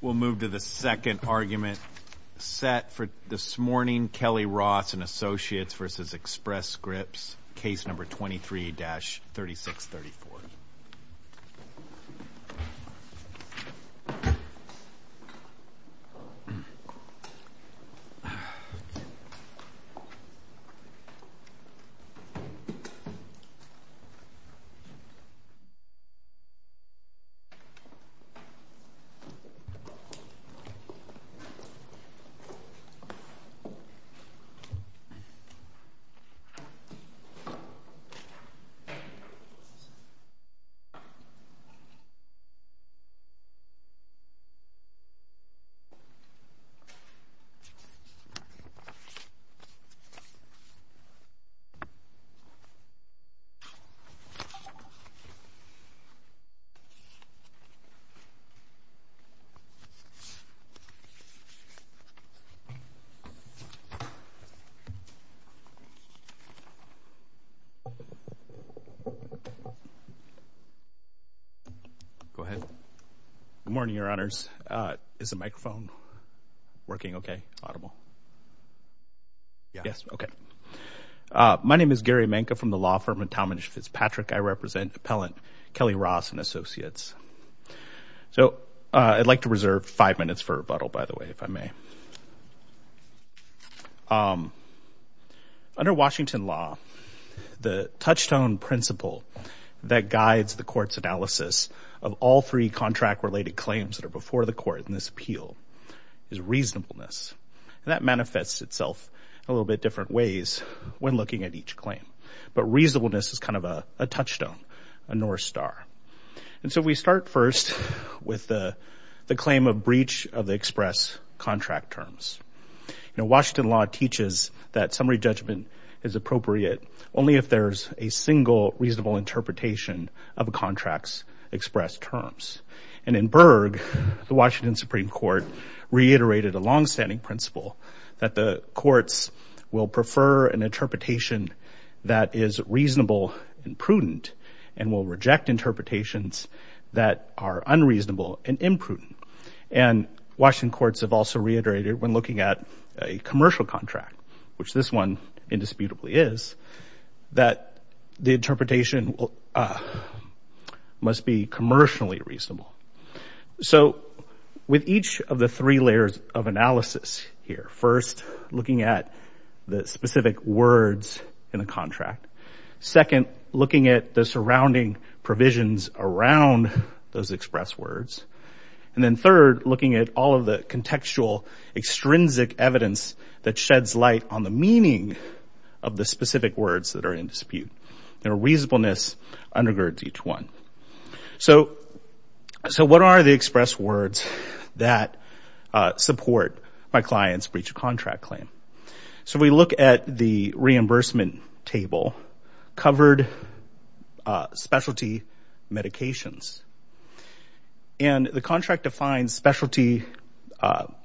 We'll move to the second argument set for this morning, Kelly-Ross & Associates v. Express Good morning, Your Honors. Is the microphone working okay, audible? Yes, okay. My name is Gary Menke from the law firm of Talmadge Fitzpatrick. I represent appellant Kelly-Ross & Associates. So I'd like to reserve five minutes for rebuttal, by the way, if I may. Under Washington law, the touchstone principle that guides the court's analysis of all three contract-related claims that are before the court in this appeal is reasonableness. And that manifests itself a little bit different ways when looking at each claim. But reasonableness is kind of a touchstone, a north star. And so we start first with the claim of breach of the express contract terms. You know, Washington law teaches that summary judgment is appropriate only if there's a single reasonable interpretation of a contract's express terms. And in Berg, the Washington Supreme Court reiterated a longstanding principle that the courts will prefer an interpretation that is reasonable and prudent and will reject interpretations that are unreasonable and imprudent. And Washington courts have also reiterated when looking at a commercial contract, which this one indisputably is, that the interpretation must be commercially reasonable. So with each of the three layers of analysis here, first looking at the specific words in the contract, second, looking at the surrounding provisions around those express words, and then third, looking at all of the contextual extrinsic evidence that sheds light on the meaning of the specific words that are in dispute. Their reasonableness undergirds each one. So what are the express words that support my client's breach of contract claim? So we look at the reimbursement table, covered specialty medications. And the contract defines specialty,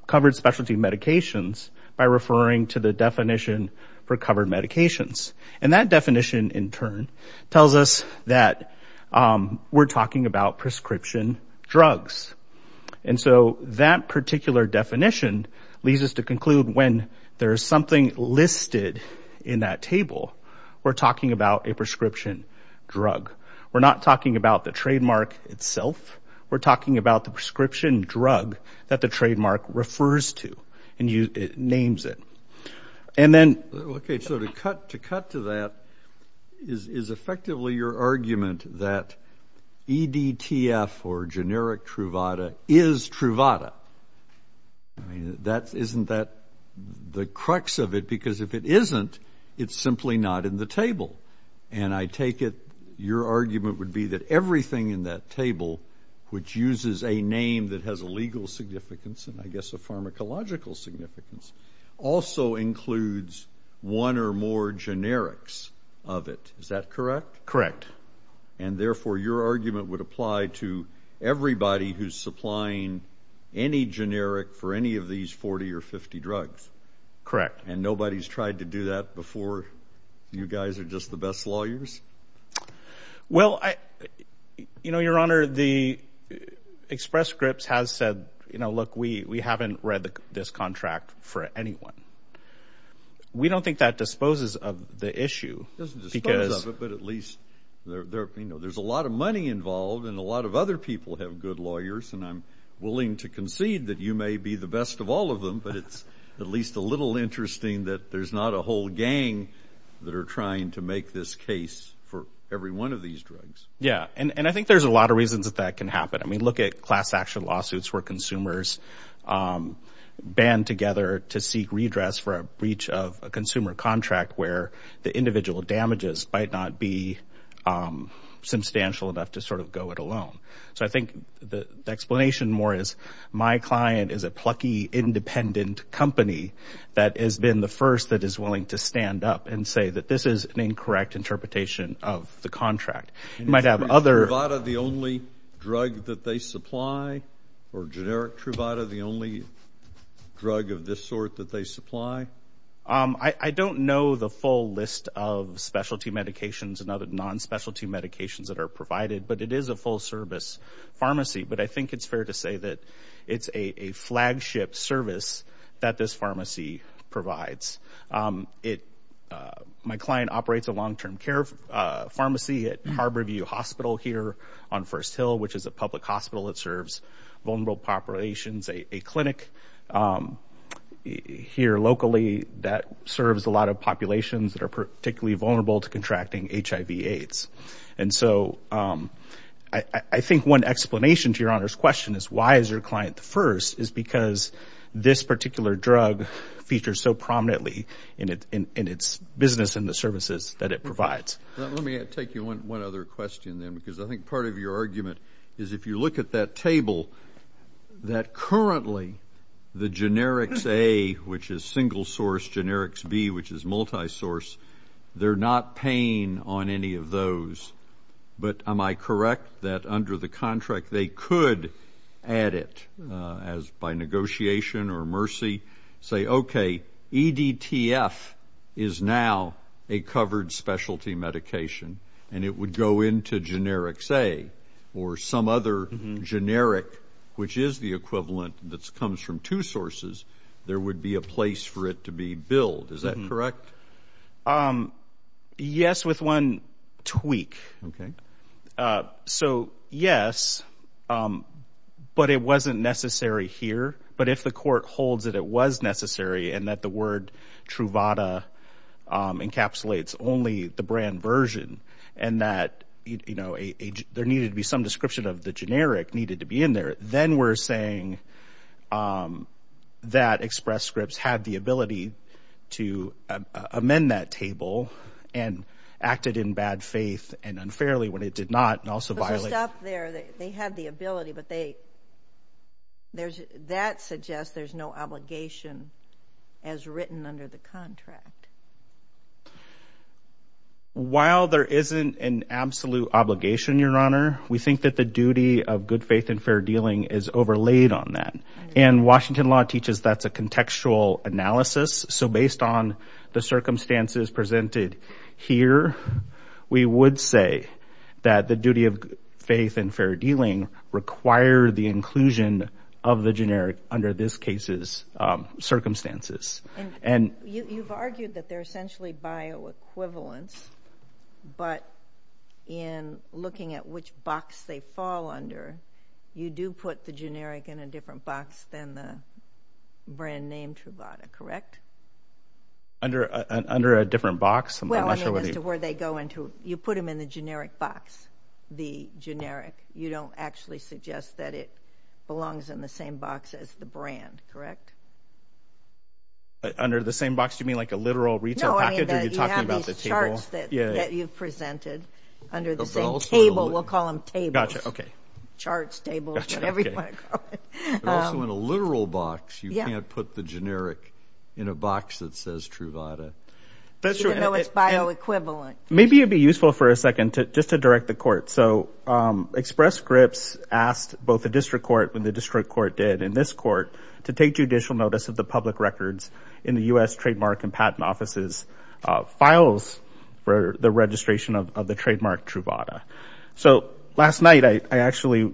covered specialty medications by referring to the definition for covered medications. And that definition in turn tells us that we're talking about prescription drugs. And so that particular definition leads us to conclude when there is something listed in that table, we're talking about a prescription drug. We're not talking about the trademark itself. We're talking about the prescription drug that the trademark refers to and names it. And then, okay, so to cut to that, is effectively your argument that EDTF or generic Truvada is Truvada? I mean, isn't that the crux of it? Because if it isn't, it's simply not in the table. And I take it your argument would be that everything in that table, which uses a name that has a legal significance and I guess a pharmacological significance, also includes one or more generics of it. Is that correct? And therefore, your argument would apply to everybody who's supplying any generic for any of these 40 or 50 drugs? Correct. And nobody's tried to do that before? You guys are just the best lawyers? Well, you know, Your Honor, the Express Scripps has said, you know, look, we haven't read this contract for anyone. We don't think that disposes of the issue. It doesn't dispose of it, but at least there's a lot of money involved and a lot of other people have good lawyers. And I'm willing to concede that you may be the best of all of them. But it's at least a little interesting that there's not a whole gang that are trying to make this case for every one of these drugs. Yeah, and I think there's a lot of reasons that that can happen. I mean, look at class action lawsuits where consumers band together to seek redress for a breach of a consumer contract where the individual damages might not be substantial enough to sort of go it alone. So I think the explanation more is my client is a plucky independent company that has been the first that is willing to stand up and say that this is an incorrect interpretation of the contract. You might have other... Is Truvada the only drug that they supply or generic Truvada the only drug of this sort that they supply? I don't know the full list of specialty medications and other non-specialty medications that are provided, but it is a full-service pharmacy. But I think it's fair to say that it's a flagship service that this pharmacy provides. My client operates a long-term care pharmacy at Harborview Hospital here on First Hill, which is a public hospital that serves vulnerable populations. A clinic here locally that serves a lot of populations that are particularly vulnerable to contracting HIV-AIDS. And so I think one explanation to Your Honor's question is why is your client the first is because this particular drug features so prominently in its business and the services that it provides. Let me take you on one other question then because I think part of your argument is if you look at that table that currently the generics A, which is single source, generics B, which is multi-source, they're not paying on any of those. But am I correct that under the contract they could add it as by negotiation or mercy, say okay EDTF is now a covered specialty medication and it would go into generics A or some other generic, which is the equivalent that comes from two sources, there would be a place for it to be billed. Is that correct? Yes, with one tweak. Okay. So yes, but it wasn't necessary here. But if the court holds that it was necessary and that the word Truvada encapsulates only the brand version and that there needed to be some description of the generic needed to be in there, then we're saying that Express Scripts had the ability to amend that table and acted in bad faith and unfairly when it did not and also violated. But just up there, they had the ability, but that suggests there's no obligation as written under the contract. While there isn't an absolute obligation, Your Honor, we think that the duty of good faith and fair dealing is overlaid on that. And Washington law teaches that's a contextual analysis. So based on the circumstances presented here, we would say that the duty of faith and fair dealing require the inclusion of the generic under this case's circumstances. And you've argued that they're essentially bioequivalence, but in looking at which box they fall under, you do put the generic in a different box than the brand name Truvada, correct? Under a different box? Well, I mean, as to where they go into, you put them in the generic box, the generic. You don't actually suggest that it belongs in the same box as the brand, correct? Under the same box, you mean like a literal retail package? No, I mean that you have these charts that you've presented under the same table. We'll call them tables. Charts, tables, whatever you want to call it. But also in a literal box, you can't put the generic in a box that says Truvada. Even though it's bioequivalent. Maybe it'd be useful for a second just to direct the court. So Express Scripps asked both the district court, when the district court did in this court, to take judicial notice of the public records in the U.S. trademark and patent offices files for the registration of the trademark Truvada. So last night, I actually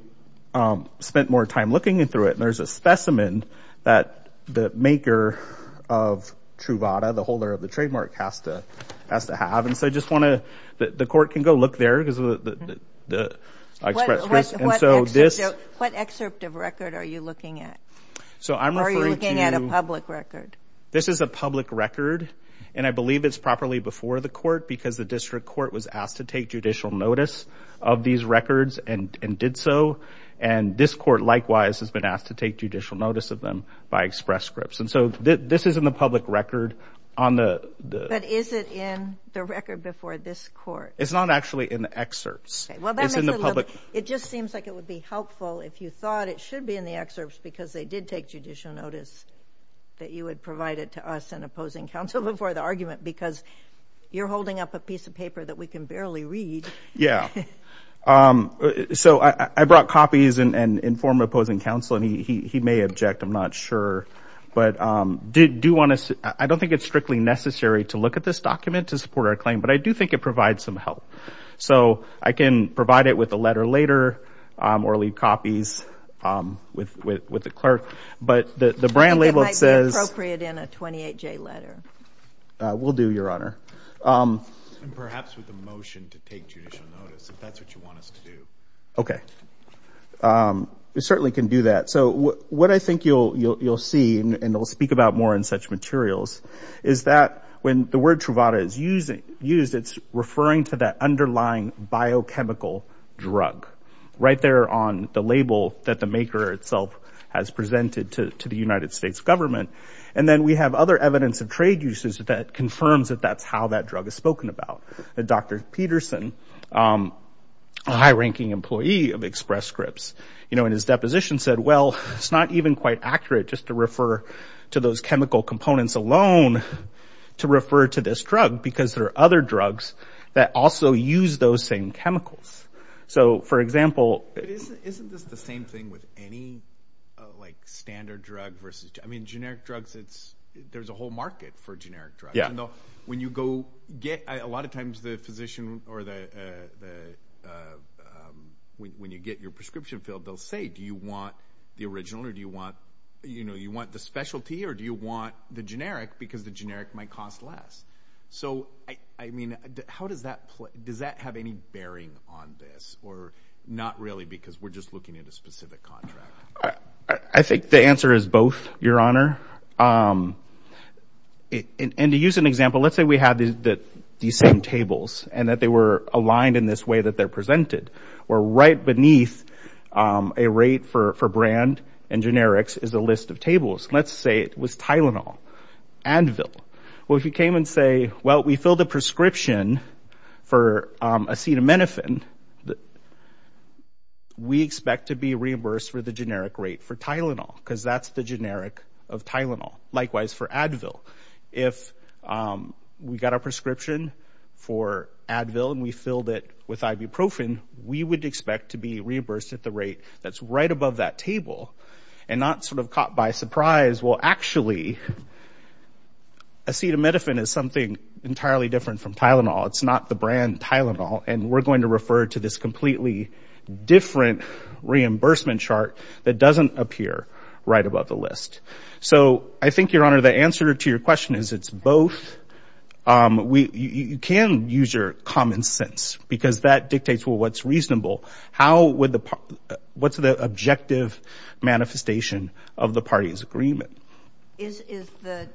spent more time looking through it, and there's a specimen that the maker of Truvada, the holder of the trademark, has to have. And so I just want to, the court can go look there, because the Express Scripps, and so this... What excerpt of record are you looking at? So I'm referring to... Are you looking at a public record? This is a public record, and I believe it's properly before the court, because the district court was asked to take judicial notice of these records and did so. And this court, likewise, has been asked to take judicial notice of them by Express Scripps. And so this is in the public record on the... But is it in the record before this court? It's not actually in the excerpts. It's in the public... It just seems like it would be helpful if you thought it should be in the excerpts, because they did take judicial notice that you had provided to us and opposing counsel before the argument, because you're holding up a piece of paper that we can barely read. Yeah. So I brought copies and informed opposing counsel, and he may object, I'm not sure. But I don't think it's strictly necessary to look at this document to support our claim, but I do think it provides some help. So I can provide it with a letter later, or leave copies with the clerk. But the brand label says... It might be appropriate in a 28-J letter. Will do, Your Honor. And perhaps with a motion to take judicial notice, if that's what you want us to do. Okay. We certainly can do that. So what I think you'll see, and we'll speak about more in such materials, is that when the word Truvada is used, it's referring to that underlying biochemical drug, right there on the label that the maker itself has presented to the United States government. And then we have other evidence of trade uses that confirms that that's how drug is spoken about. Dr. Peterson, a high-ranking employee of Express Scripts, in his deposition said, well, it's not even quite accurate just to refer to those chemical components alone to refer to this drug, because there are other drugs that also use those same chemicals. So for example... Isn't this the same thing with any standard drug versus... I mean, generic drugs, there's a whole market for generic drugs. Yeah. When you go get... A lot of times the physician, or when you get your prescription filled, they'll say, do you want the original, or do you want the specialty, or do you want the generic, because the generic might cost less? So I mean, how does that play? Does that have any bearing on this? Or not really, because we're just looking at a specific contract? I think the answer is both, Your Honor. And to use an example, let's say we had these same tables, and that they were aligned in this way that they're presented, where right beneath a rate for brand and generics is a list of tables. Let's say it was Tylenol, Advil. Well, if you came and say, well, we filled a prescription for acetaminophen, we expect to be reimbursed for the generic rate for Tylenol, because that's the generic of Tylenol. Likewise for Advil. If we got a prescription for Advil, and we filled it with ibuprofen, we would expect to be reimbursed at the rate that's right above that table, and not sort of caught by surprise. Well, actually, acetaminophen is something entirely different from Tylenol. It's not the brand Tylenol, and we're going to refer to this completely different reimbursement chart that doesn't appear right above the list. So I think, Your Honor, the answer to your question is it's both. You can use your common sense, because that dictates, well, what's reasonable. How would the, what's the objective manifestation of the party's agreement? Is the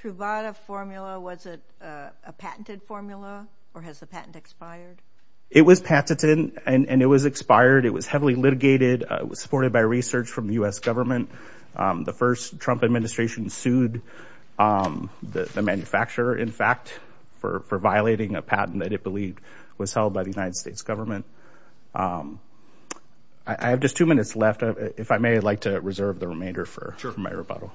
Truvada formula, was it a patented formula, or has the patent expired? It was patented, and it was expired. It was heavily litigated. It was supported by research from the U.S. government. The first Trump administration sued the manufacturer, in fact, for violating a patent that it believed was held by the United States government. I have just two minutes left. If I may, I'd like to reserve the remainder for my rebuttal.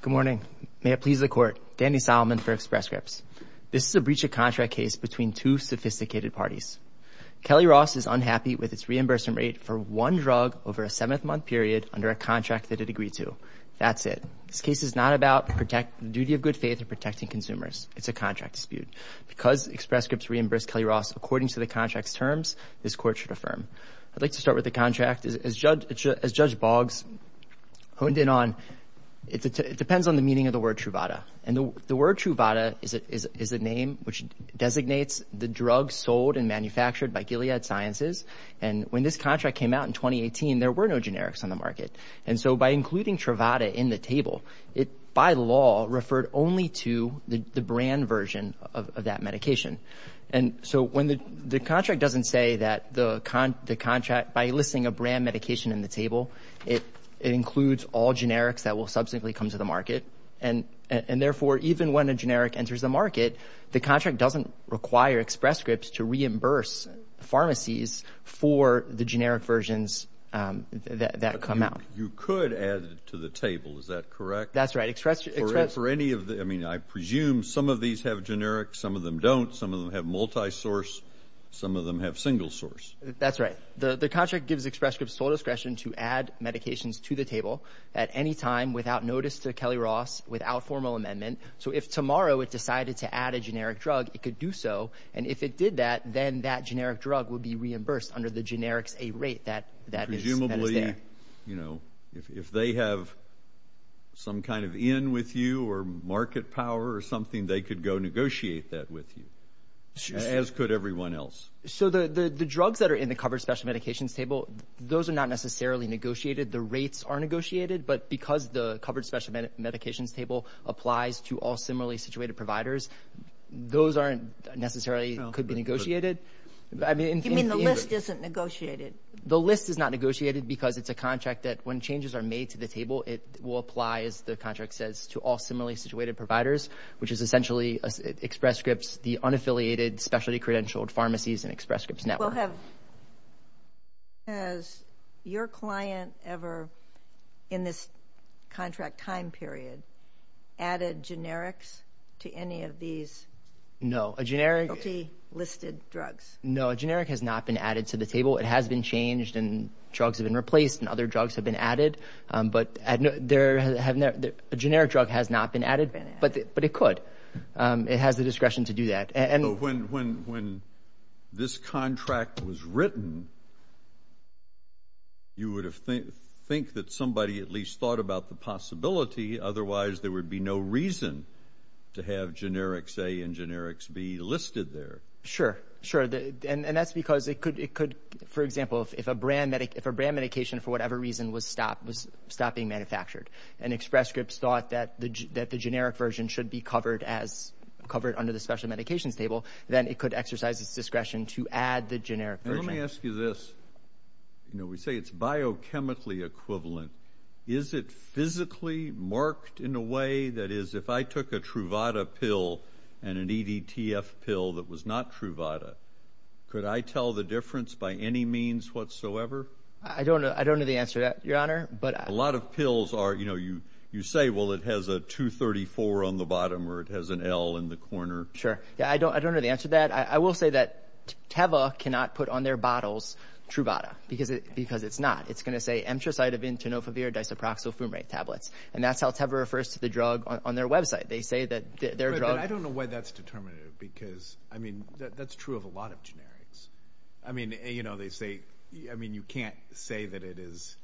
Good morning. May it please the Court. Danny Solomon for Express Scripts. This is a breach of contract case between two sophisticated parties. Kelly Ross is unhappy with its reimbursement rate for one drug over a seventh-month period under a contract that it agreed to. That's it. This case is not about the duty of good faith in protecting consumers. It's a contract dispute. Because Express Scripts reimbursed Kelly Ross according to the contract's terms, this Court should affirm. I'd like to start with the contract. As Judge Boggs honed in on, it depends on the meaning of the word Truvada. And the word Truvada is a name which designates the drugs sold and manufactured by Gilead Sciences. And when this contract came out in 2018, there were no generics on the market. And so, by including Truvada in the table, it, by law, referred only to the brand version of that medication. And so, when the contract doesn't say that the contract, by listing a brand medication in the table, it includes all generics that will subsequently come to the market. And therefore, even when a generic enters the market, the contract doesn't require Express Scripts to for the generic versions that come out. You could add it to the table. Is that correct? That's right. For any of the, I mean, I presume some of these have generics, some of them don't. Some of them have multi-source. Some of them have single source. That's right. The contract gives Express Scripts full discretion to add medications to the table at any time without notice to Kelly Ross, without formal amendment. So, if tomorrow it decided to add a generic drug, it could do so. And if it did that, then that generic drug would be reimbursed. Under the generics, a rate that is there. Presumably, you know, if they have some kind of in with you or market power or something, they could go negotiate that with you, as could everyone else. So, the drugs that are in the covered special medications table, those are not necessarily negotiated. The rates are negotiated. But because the covered special medications table applies to all similarly situated providers, those aren't necessarily, could be negotiated. You mean the list isn't negotiated? The list is not negotiated because it's a contract that when changes are made to the table, it will apply, as the contract says, to all similarly situated providers, which is essentially Express Scripts, the unaffiliated specialty credentialed pharmacies and Express Scripts network. Has your client ever, in this contract time period, added generics to any of these? No, a generic. Multi-listed drugs. No, a generic has not been added to the table. It has been changed and drugs have been replaced and other drugs have been added. But a generic drug has not been added, but it could. It has discretion to do that. When this contract was written, you would think that somebody at least thought about the possibility. Otherwise, there would be no reason to have generics A and generics B listed there. Sure, sure. And that's because it could, for example, if a brand medication, for whatever reason, was stopped, was stopped being manufactured, and Express Scripts thought that the generic version should be covered under the special medications table, then it could exercise its discretion to add the generic version. Let me ask you this. We say it's biochemically equivalent. Is it physically marked in a way that is, if I took a Truvada pill and an EDTF pill that was not Truvada, could I tell the difference by any means whatsoever? I don't know the answer to that, Your Honor. A lot of pills are, you say, it has a 234 on the bottom, or it has an L in the corner. Sure. I don't know the answer to that. I will say that Teva cannot put on their bottles Truvada, because it's not. It's going to say emtricitabine tenofovir disoproxyl fumarate tablets. And that's how Teva refers to the drug on their website. They say that their drug... But I don't know why that's determinative, because that's true of a lot of generics. You can't say that it is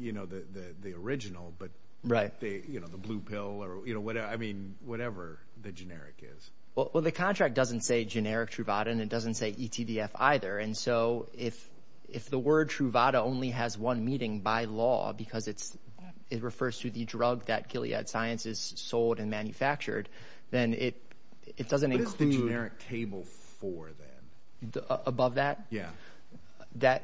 the original, but the blue pill or whatever the generic is. Well, the contract doesn't say generic Truvada, and it doesn't say ETDF either. And so if the word Truvada only has one meeting by law, because it refers to the drug that Gilead Sciences sold and manufactured, then it doesn't include... What is the generic table for then? Above that? Yeah.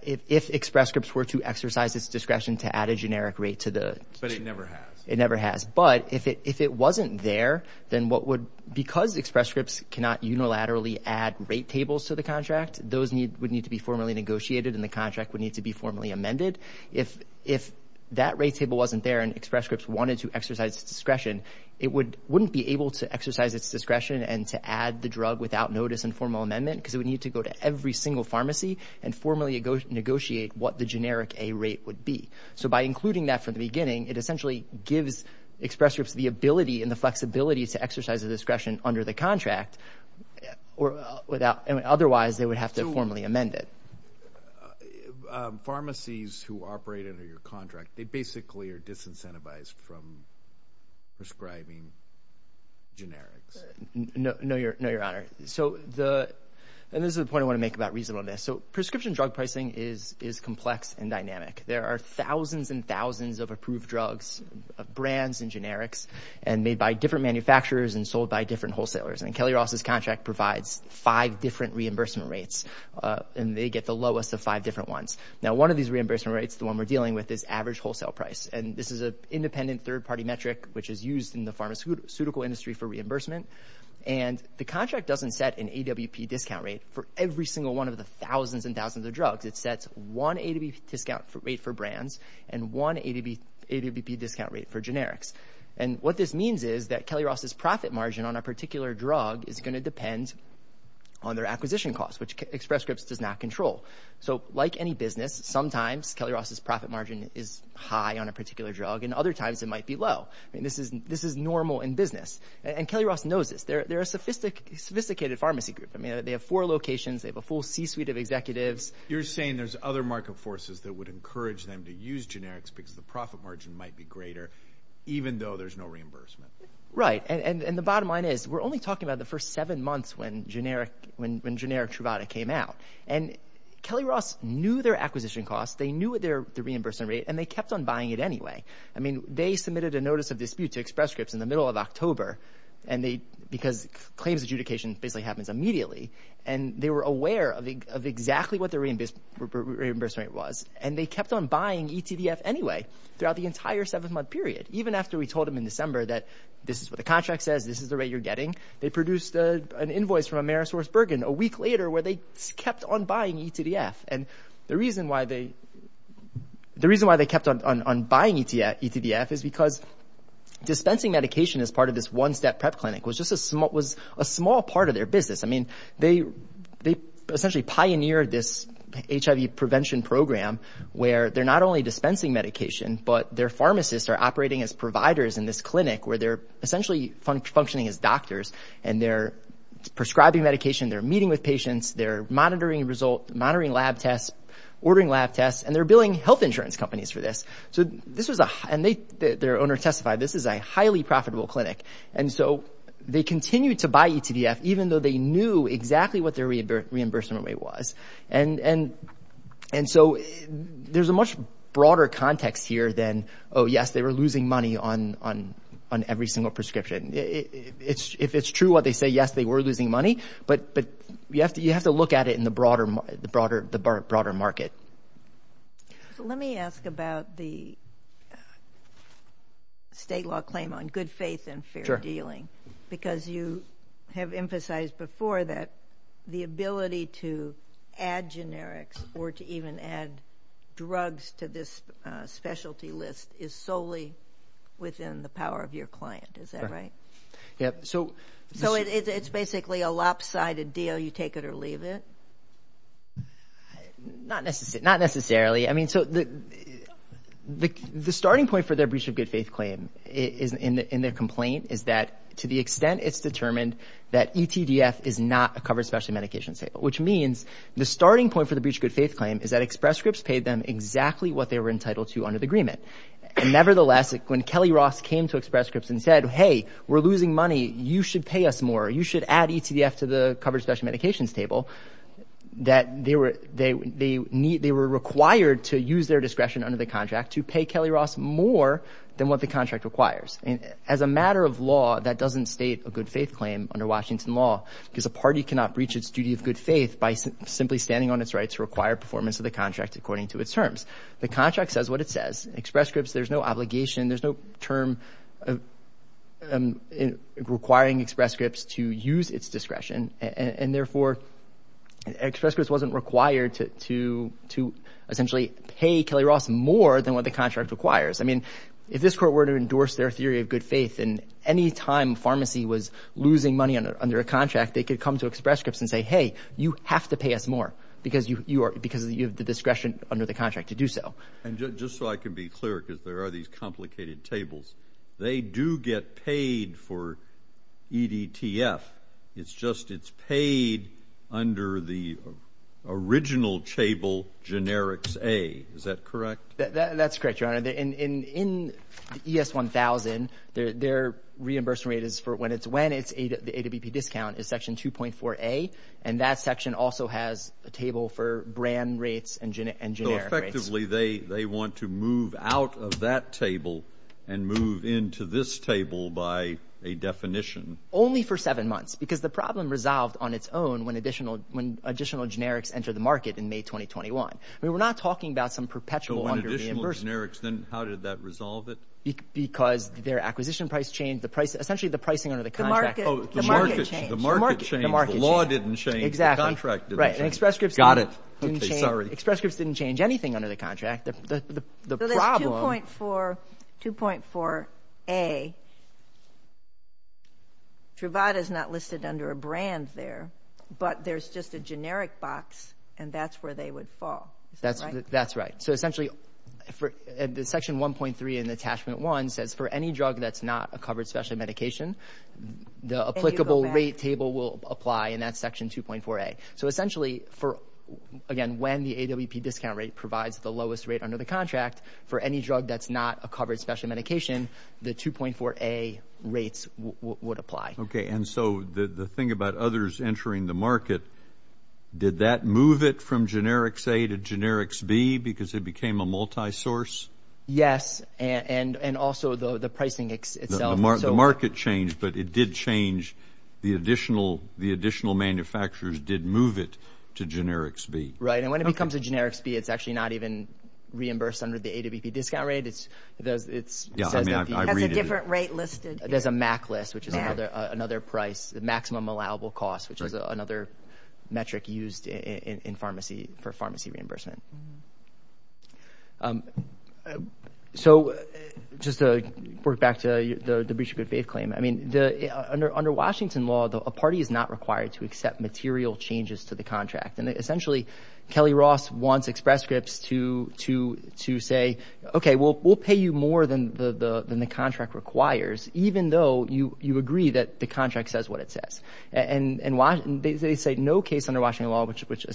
If Express Scripts were to exercise its discretion to add a generic rate to the... But it never has. It never has. But if it wasn't there, then what would... Because Express Scripts cannot unilaterally add rate tables to the contract, those would need to be formally negotiated, and the contract would need to be formally amended. If that rate table wasn't there and Express Scripts wanted to exercise its discretion, it wouldn't be able to exercise its discretion and to add the drug without notice and formal amendment, because it would need to go to every single pharmacy and formally negotiate what the generic A rate would be. So by including that from the beginning, it essentially gives Express Scripts the ability and the flexibility to exercise a discretion under the contract or without... Otherwise, they would have to formally amend it. Pharmacies who operate under your contract, they basically are disincentivized from prescribing generics. No, Your Honor. So the... And this is the point I want to make about reasonableness. So prescription drug pricing is complex and dynamic. There are thousands and thousands of approved drugs, brands and generics, and made by different manufacturers and sold by different wholesalers. And Kelly Ross's contract provides five different reimbursement rates, and they get the lowest of five different ones. Now, one of these reimbursement rates, the one we're dealing with, is average wholesale price. And this is an independent third-party metric, which is used in the pharmaceutical industry for reimbursement. And the contract doesn't set an AWP discount rate for every single one of the thousands and thousands of drugs. It sets one AWP discount rate for brands and one AWP discount rate for generics. And what this means is that Kelly Ross's profit margin on a particular drug is going to depend on their acquisition costs, which Express Scripts does not control. So like any business, sometimes Kelly Ross's profit margin is high on a particular drug, and other times it might be low. This is normal in business. And Kelly Ross knows this. They're a sophisticated pharmacy group. They have four locations. They have a full C-suite of executives. You're saying there's other market forces that would encourage them to use generics because the profit margin might be greater, even though there's no reimbursement. Right. And the bottom line is, we're only talking about the first seven months when generic Truvada came out. And Kelly Ross knew their acquisition costs. They knew their reimbursement rate, and they kept on buying it anyway. I mean, they submitted a notice of dispute to Express Scripts in the middle of October, because claims adjudication basically happens immediately. And they were aware of exactly what their reimbursement rate was, and they kept on buying eTDF anyway throughout the entire seven-month period, even after we told them in December that this is what the contract says, this is the rate you're getting. They produced an invoice from AmerisourceBergen a week later, where they kept on buying eTDF. And the reason why they kept on buying eTDF is because dispensing medication as part of this one-step prep clinic was just a small part of their business. I mean, they essentially pioneered this HIV prevention program, where they're not only dispensing medication, but their pharmacists are operating as providers in this clinic, where they're essentially functioning as doctors. And they're prescribing medication, they're meeting with patients, they're monitoring lab tests, ordering lab tests, and they're billing health insurance companies for this. So this was a, and their owner testified, this is a highly profitable clinic. And so they continued to buy eTDF, even though they knew exactly what their reimbursement rate was. And so there's a much broader context here than, oh, yes, they were losing money on every single prescription. If it's true what they say, yes, they were losing money, but you have to look at it in the broader market. Let me ask about the state law claim on good faith and fair dealing, because you have emphasized before that the ability to add generics or to even add drugs to this specialty list is solely within the power of your client. Is that right? Yeah. So it's basically a lopsided deal, you take it or leave it? Not necessarily. I mean, so the starting point for their breach of good faith claim in their complaint is that to the extent it's determined that eTDF is not a covered specialty medication sale, which means the starting point for the breach of good faith claim is that Express Scripps paid them exactly what they were entitled to under the agreement. And nevertheless, when Kelly-Ross came to Express Scripps and said, hey, we're losing money, you should pay us more, you should add eTDF to the covered specialty medications table, that they were required to use their discretion under the contract to pay Kelly-Ross more than what the contract requires. And as a matter of law, that doesn't state a good faith claim under Washington law, because a party cannot breach its duty of good faith by simply standing on its right to require performance of the contract according to its terms. The contract says what it says. Express term requiring Express Scripps to use its discretion, and therefore Express Scripps wasn't required to essentially pay Kelly-Ross more than what the contract requires. I mean, if this court were to endorse their theory of good faith in any time pharmacy was losing money under a contract, they could come to Express Scripps and say, hey, you have to pay us more because you have the discretion under the contract to do so. And just so I can be clear, because there are these complicated tables, they do get paid for eDTF. It's just it's paid under the original table, generics A. Is that correct? That's correct, your honor. In ES 1000, their reimbursement rate is for when it's when it's the AWP discount is section 2.4 A. And that section also has a table for brand rates and effectively, they they want to move out of that table and move into this table by a definition only for seven months, because the problem resolved on its own when additional when additional generics enter the market in May 2021. We were not talking about some perpetual generics. Then how did that resolve it? Because their acquisition price changed the price, essentially the pricing under the contract, the market, the market, the law didn't change. Right. And Express Scripts got it. Express Scripts didn't change anything under the contract. The problem for 2.4 A. Truvada is not listed under a brand there, but there's just a generic box and that's where they would fall. That's that's right. So essentially for the section 1.3 and attachment one says for any drug that's not a covered special medication, the applicable rate table will apply in that section 2.4 A. So essentially for again, when the AWP discount rate provides the lowest rate under the contract for any drug that's not a covered special medication, the 2.4 A rates would apply. Okay. And so the thing about others entering the market, did that move it from generics A to generics B because it became a multisource? Yes. And and also the pricing itself. The market changed, but it did change the additional, the additional manufacturers did move it to generics B. Right. And when it becomes a generics B, it's actually not even reimbursed under the AWP discount rate. It's, it's, it has a different rate listed. There's a MAC list, which is another, another price, the maximum allowable cost, which is another metric used in pharmacy for pharmacy reimbursement. So just to work back to the breach of good faith claim, I mean, the, under, under Washington law, a party is not required to accept material changes to the contract. And essentially, Kelly Ross wants Express Scripts to, to, to say, okay, we'll, we'll pay you more than the, the, than the contract requires, even though you, you agree that the contract says what it says. And, and they say no case under Washington law, which, which,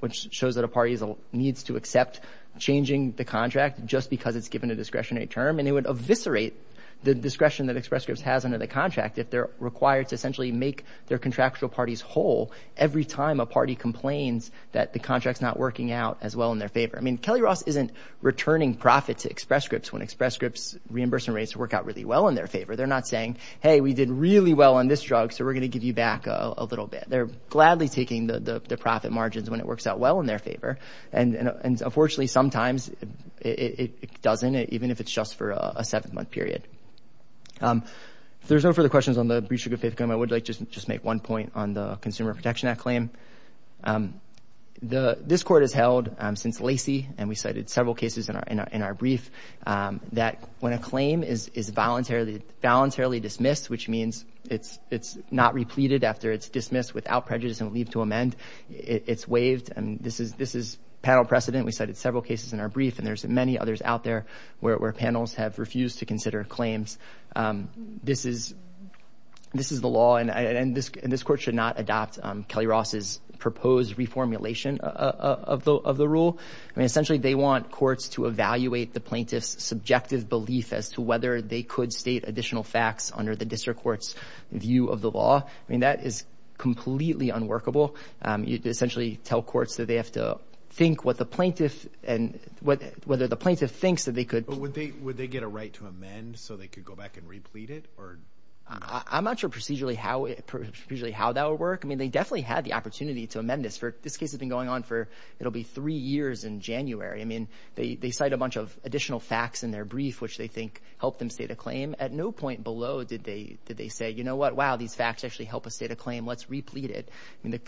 which shows that a party needs to accept changing the contract just because it's given a discretionary term. And it would eviscerate the discretion that Express Scripts has under the contract. If they're required to essentially make their contractual parties whole, every time a party complains that the contract's not working out as well in their favor. I mean, Kelly Ross, isn't returning profits to Express Scripts when Express Scripts reimbursement rates work out really well in their favor. They're not saying, hey, we did really well on this drug. So we're going to give you back a little bit. They're gladly taking the profit margins when it works out well in their favor. And, and unfortunately, sometimes it doesn't, even if it's just for a seven month period. If there's no further questions on the breach of good faith claim, I would like to just make one point on the Consumer Protection Act claim. The, this court has held since Lacey, and we cited several cases in our, in our brief, that when a claim is, is voluntarily, voluntarily dismissed, which means it's, it's not repleted after it's dismissed without prejudice and leave to amend, it's waived. And this is, this is panel precedent. We cited several cases in our brief, and there's many others out there where, where panels have refused to consider claims. This is, this is the law and, and this, and this court should not adopt Kelly Ross's proposed reformulation of the, of the rule. I mean, essentially they want courts to evaluate the plaintiff's subjective belief as to whether they could state additional facts under the You essentially tell courts that they have to think what the plaintiff and what, whether the plaintiff thinks that they could. But would they, would they get a right to amend so they could go back and replete it or? I'm not sure procedurally how it, procedurally how that would work. I mean, they definitely had the opportunity to amend this for, this case has been going on for, it'll be three years in January. I mean, they, they cite a bunch of additional facts in their brief, which they think helped them state a claim. At no point below did they, did they say, you know what, wow, these facts actually help us state a claim, let's replete it.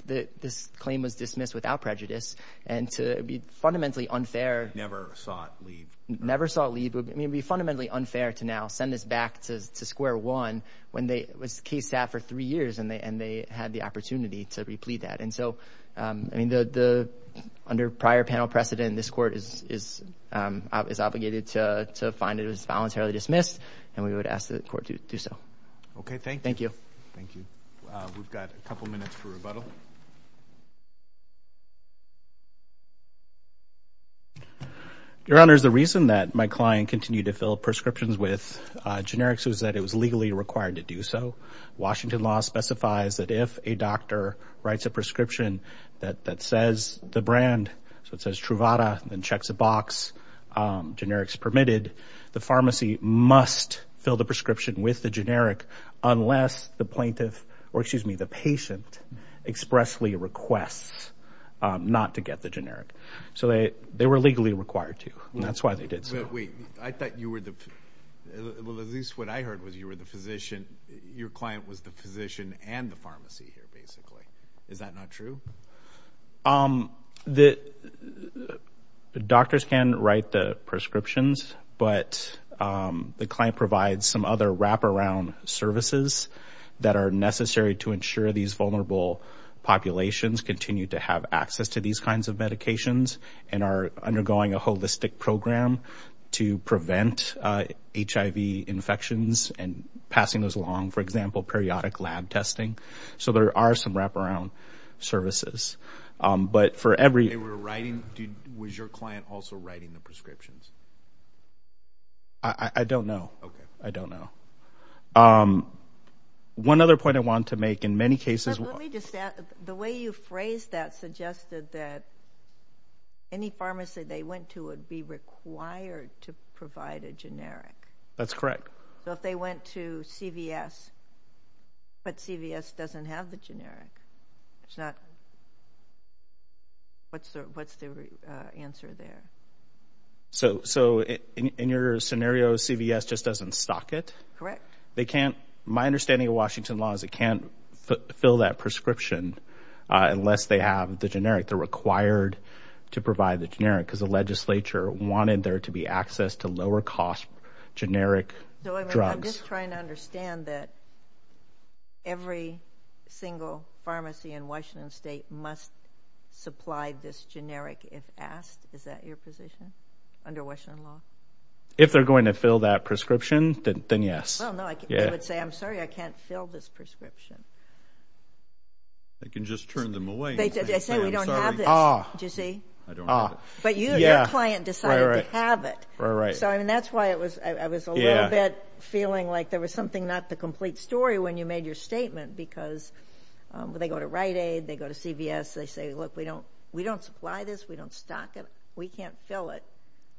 This claim was dismissed without prejudice and to be fundamentally unfair. Never saw it leave. Never saw it leave. I mean, it'd be fundamentally unfair to now send this back to square one when they, it was case sat for three years and they, and they had the opportunity to replete that. And so, I mean, the, the, under prior panel precedent, this court is, is, is obligated to, to find it was voluntarily dismissed and we would ask the court to do so. Okay. Thank you. Thank you. We've got a couple minutes for rebuttal. Your Honor, the reason that my client continued to fill prescriptions with generics was that it was legally required to do so. Washington law specifies that if a doctor writes a prescription that, that says the brand, so it says Truvada and checks a box, generics permitted, the pharmacy must fill the prescription with the generic unless the plaintiff, or excuse me, the patient expressly requests not to get the generic. So they, they were legally required to, and that's why they did so. Wait, I thought you were the, at least what I heard was you were the physician, your client was the physician and the pharmacy here basically. Is that not true? The doctors can write the prescriptions, but the client provides some other wraparound services that are necessary to ensure these vulnerable populations continue to have access to these kinds of medications and are undergoing a holistic program to prevent HIV infections and passing those along, for example, periodic lab testing. So there are some wraparound services, but for every... They were writing, was your client also writing the prescriptions? I don't know. Okay. I don't know. One other point I want to make, in many cases... Let me just add, the way you phrased that suggested that any pharmacy they went to would be required to provide a generic. That's correct. So if they went to CVS, but CVS doesn't have the generic, it's not... What's the answer there? So in your scenario, CVS just doesn't stock it? Correct. They can't... My understanding of Washington law is it can't fill that prescription unless they have the generic. They're required to provide the generic because the legislature wanted there to be access to lower cost generic drugs. I'm just trying to understand that every single pharmacy in Washington state must supply this generic if asked. Is that your position under Washington law? If they're going to fill that prescription, then yes. Well, no. They would say, I'm sorry, I can't fill this prescription. They can just turn them away. They say, we don't have this. Do you see? I don't have it. But your client decided to have it. Right, right. So I mean, that's why I was a little bit feeling like there was something not the complete story when you made your statement because they go to Rite Aid, they go to CVS, they say, look, we don't supply this, we don't stock it, we can't fill it.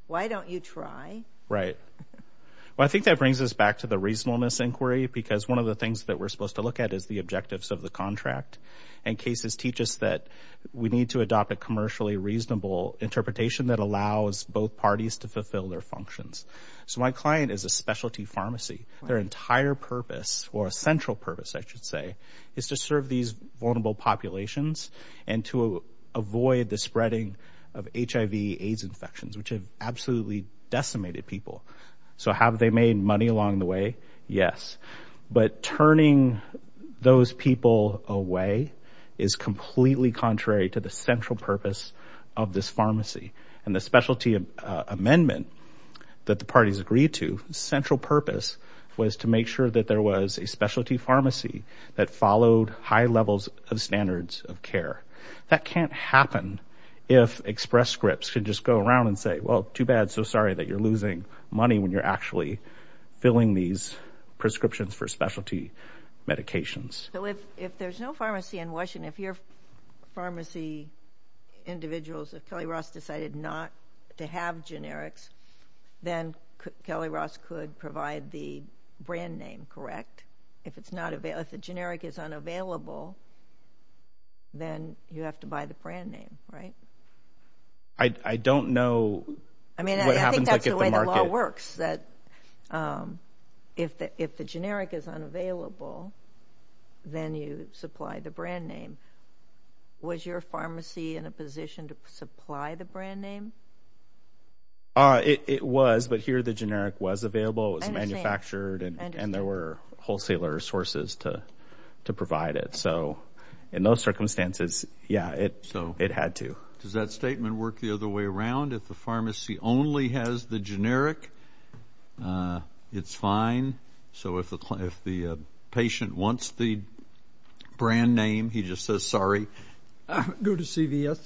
Why don't you try? Right. Well, I think that brings us back to the reasonableness inquiry, because one of the things that we're supposed to look at is the objectives of the contract. And cases teach us that we need to adopt a commercially reasonable interpretation that allows both parties to fulfill their functions. So my client is a specialty pharmacy. Their entire purpose, or central purpose, I should say, is to serve these vulnerable populations and to avoid the spreading of HIV-AIDS infections, which have absolutely decimated people. So have they made money along the way? Yes. But turning those people away is completely contrary to the central purpose of this pharmacy. And the specialty amendment that the parties agreed to, central purpose was to make sure that there was a specialty pharmacy that followed high levels of standards of care. That can't happen if express scripts can just go around and say, well, too bad, so sorry that you're losing money when you're actually filling these prescriptions for specialty medications. So if there's no pharmacy in Washington, if your pharmacy individuals, if Kelly Ross decided not to have generics, then Kelly Ross could provide the brand name, correct? If it's not available, if the generic is unavailable, then you have to buy the brand name, right? I don't know what happens at the market. I mean, I think that's the way the law works, that if the generic is unavailable, then you supply the brand name. Was your pharmacy in a position to supply the brand name? It was, but here the generic was available, it was manufactured, and there were wholesaler sources to provide it. So in those circumstances, yeah, it had to. Does that statement work the other way around? If the pharmacy only has the generic, it's fine. So if the patient wants the brand name, he just says sorry. Go to CVS.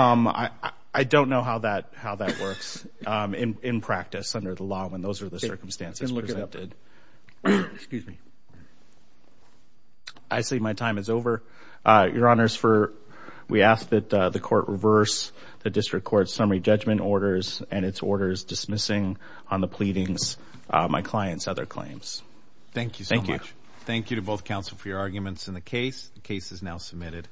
I don't know how that works in practice under the law when those are the circumstances presented. I see my time is over. Your Honors, we ask that the Court reverse the District Court's summary judgment orders and its orders dismissing on the pleadings my client's other claims. Thank you so much. Thank you to both counsel for your arguments in the case. The case is now submitted.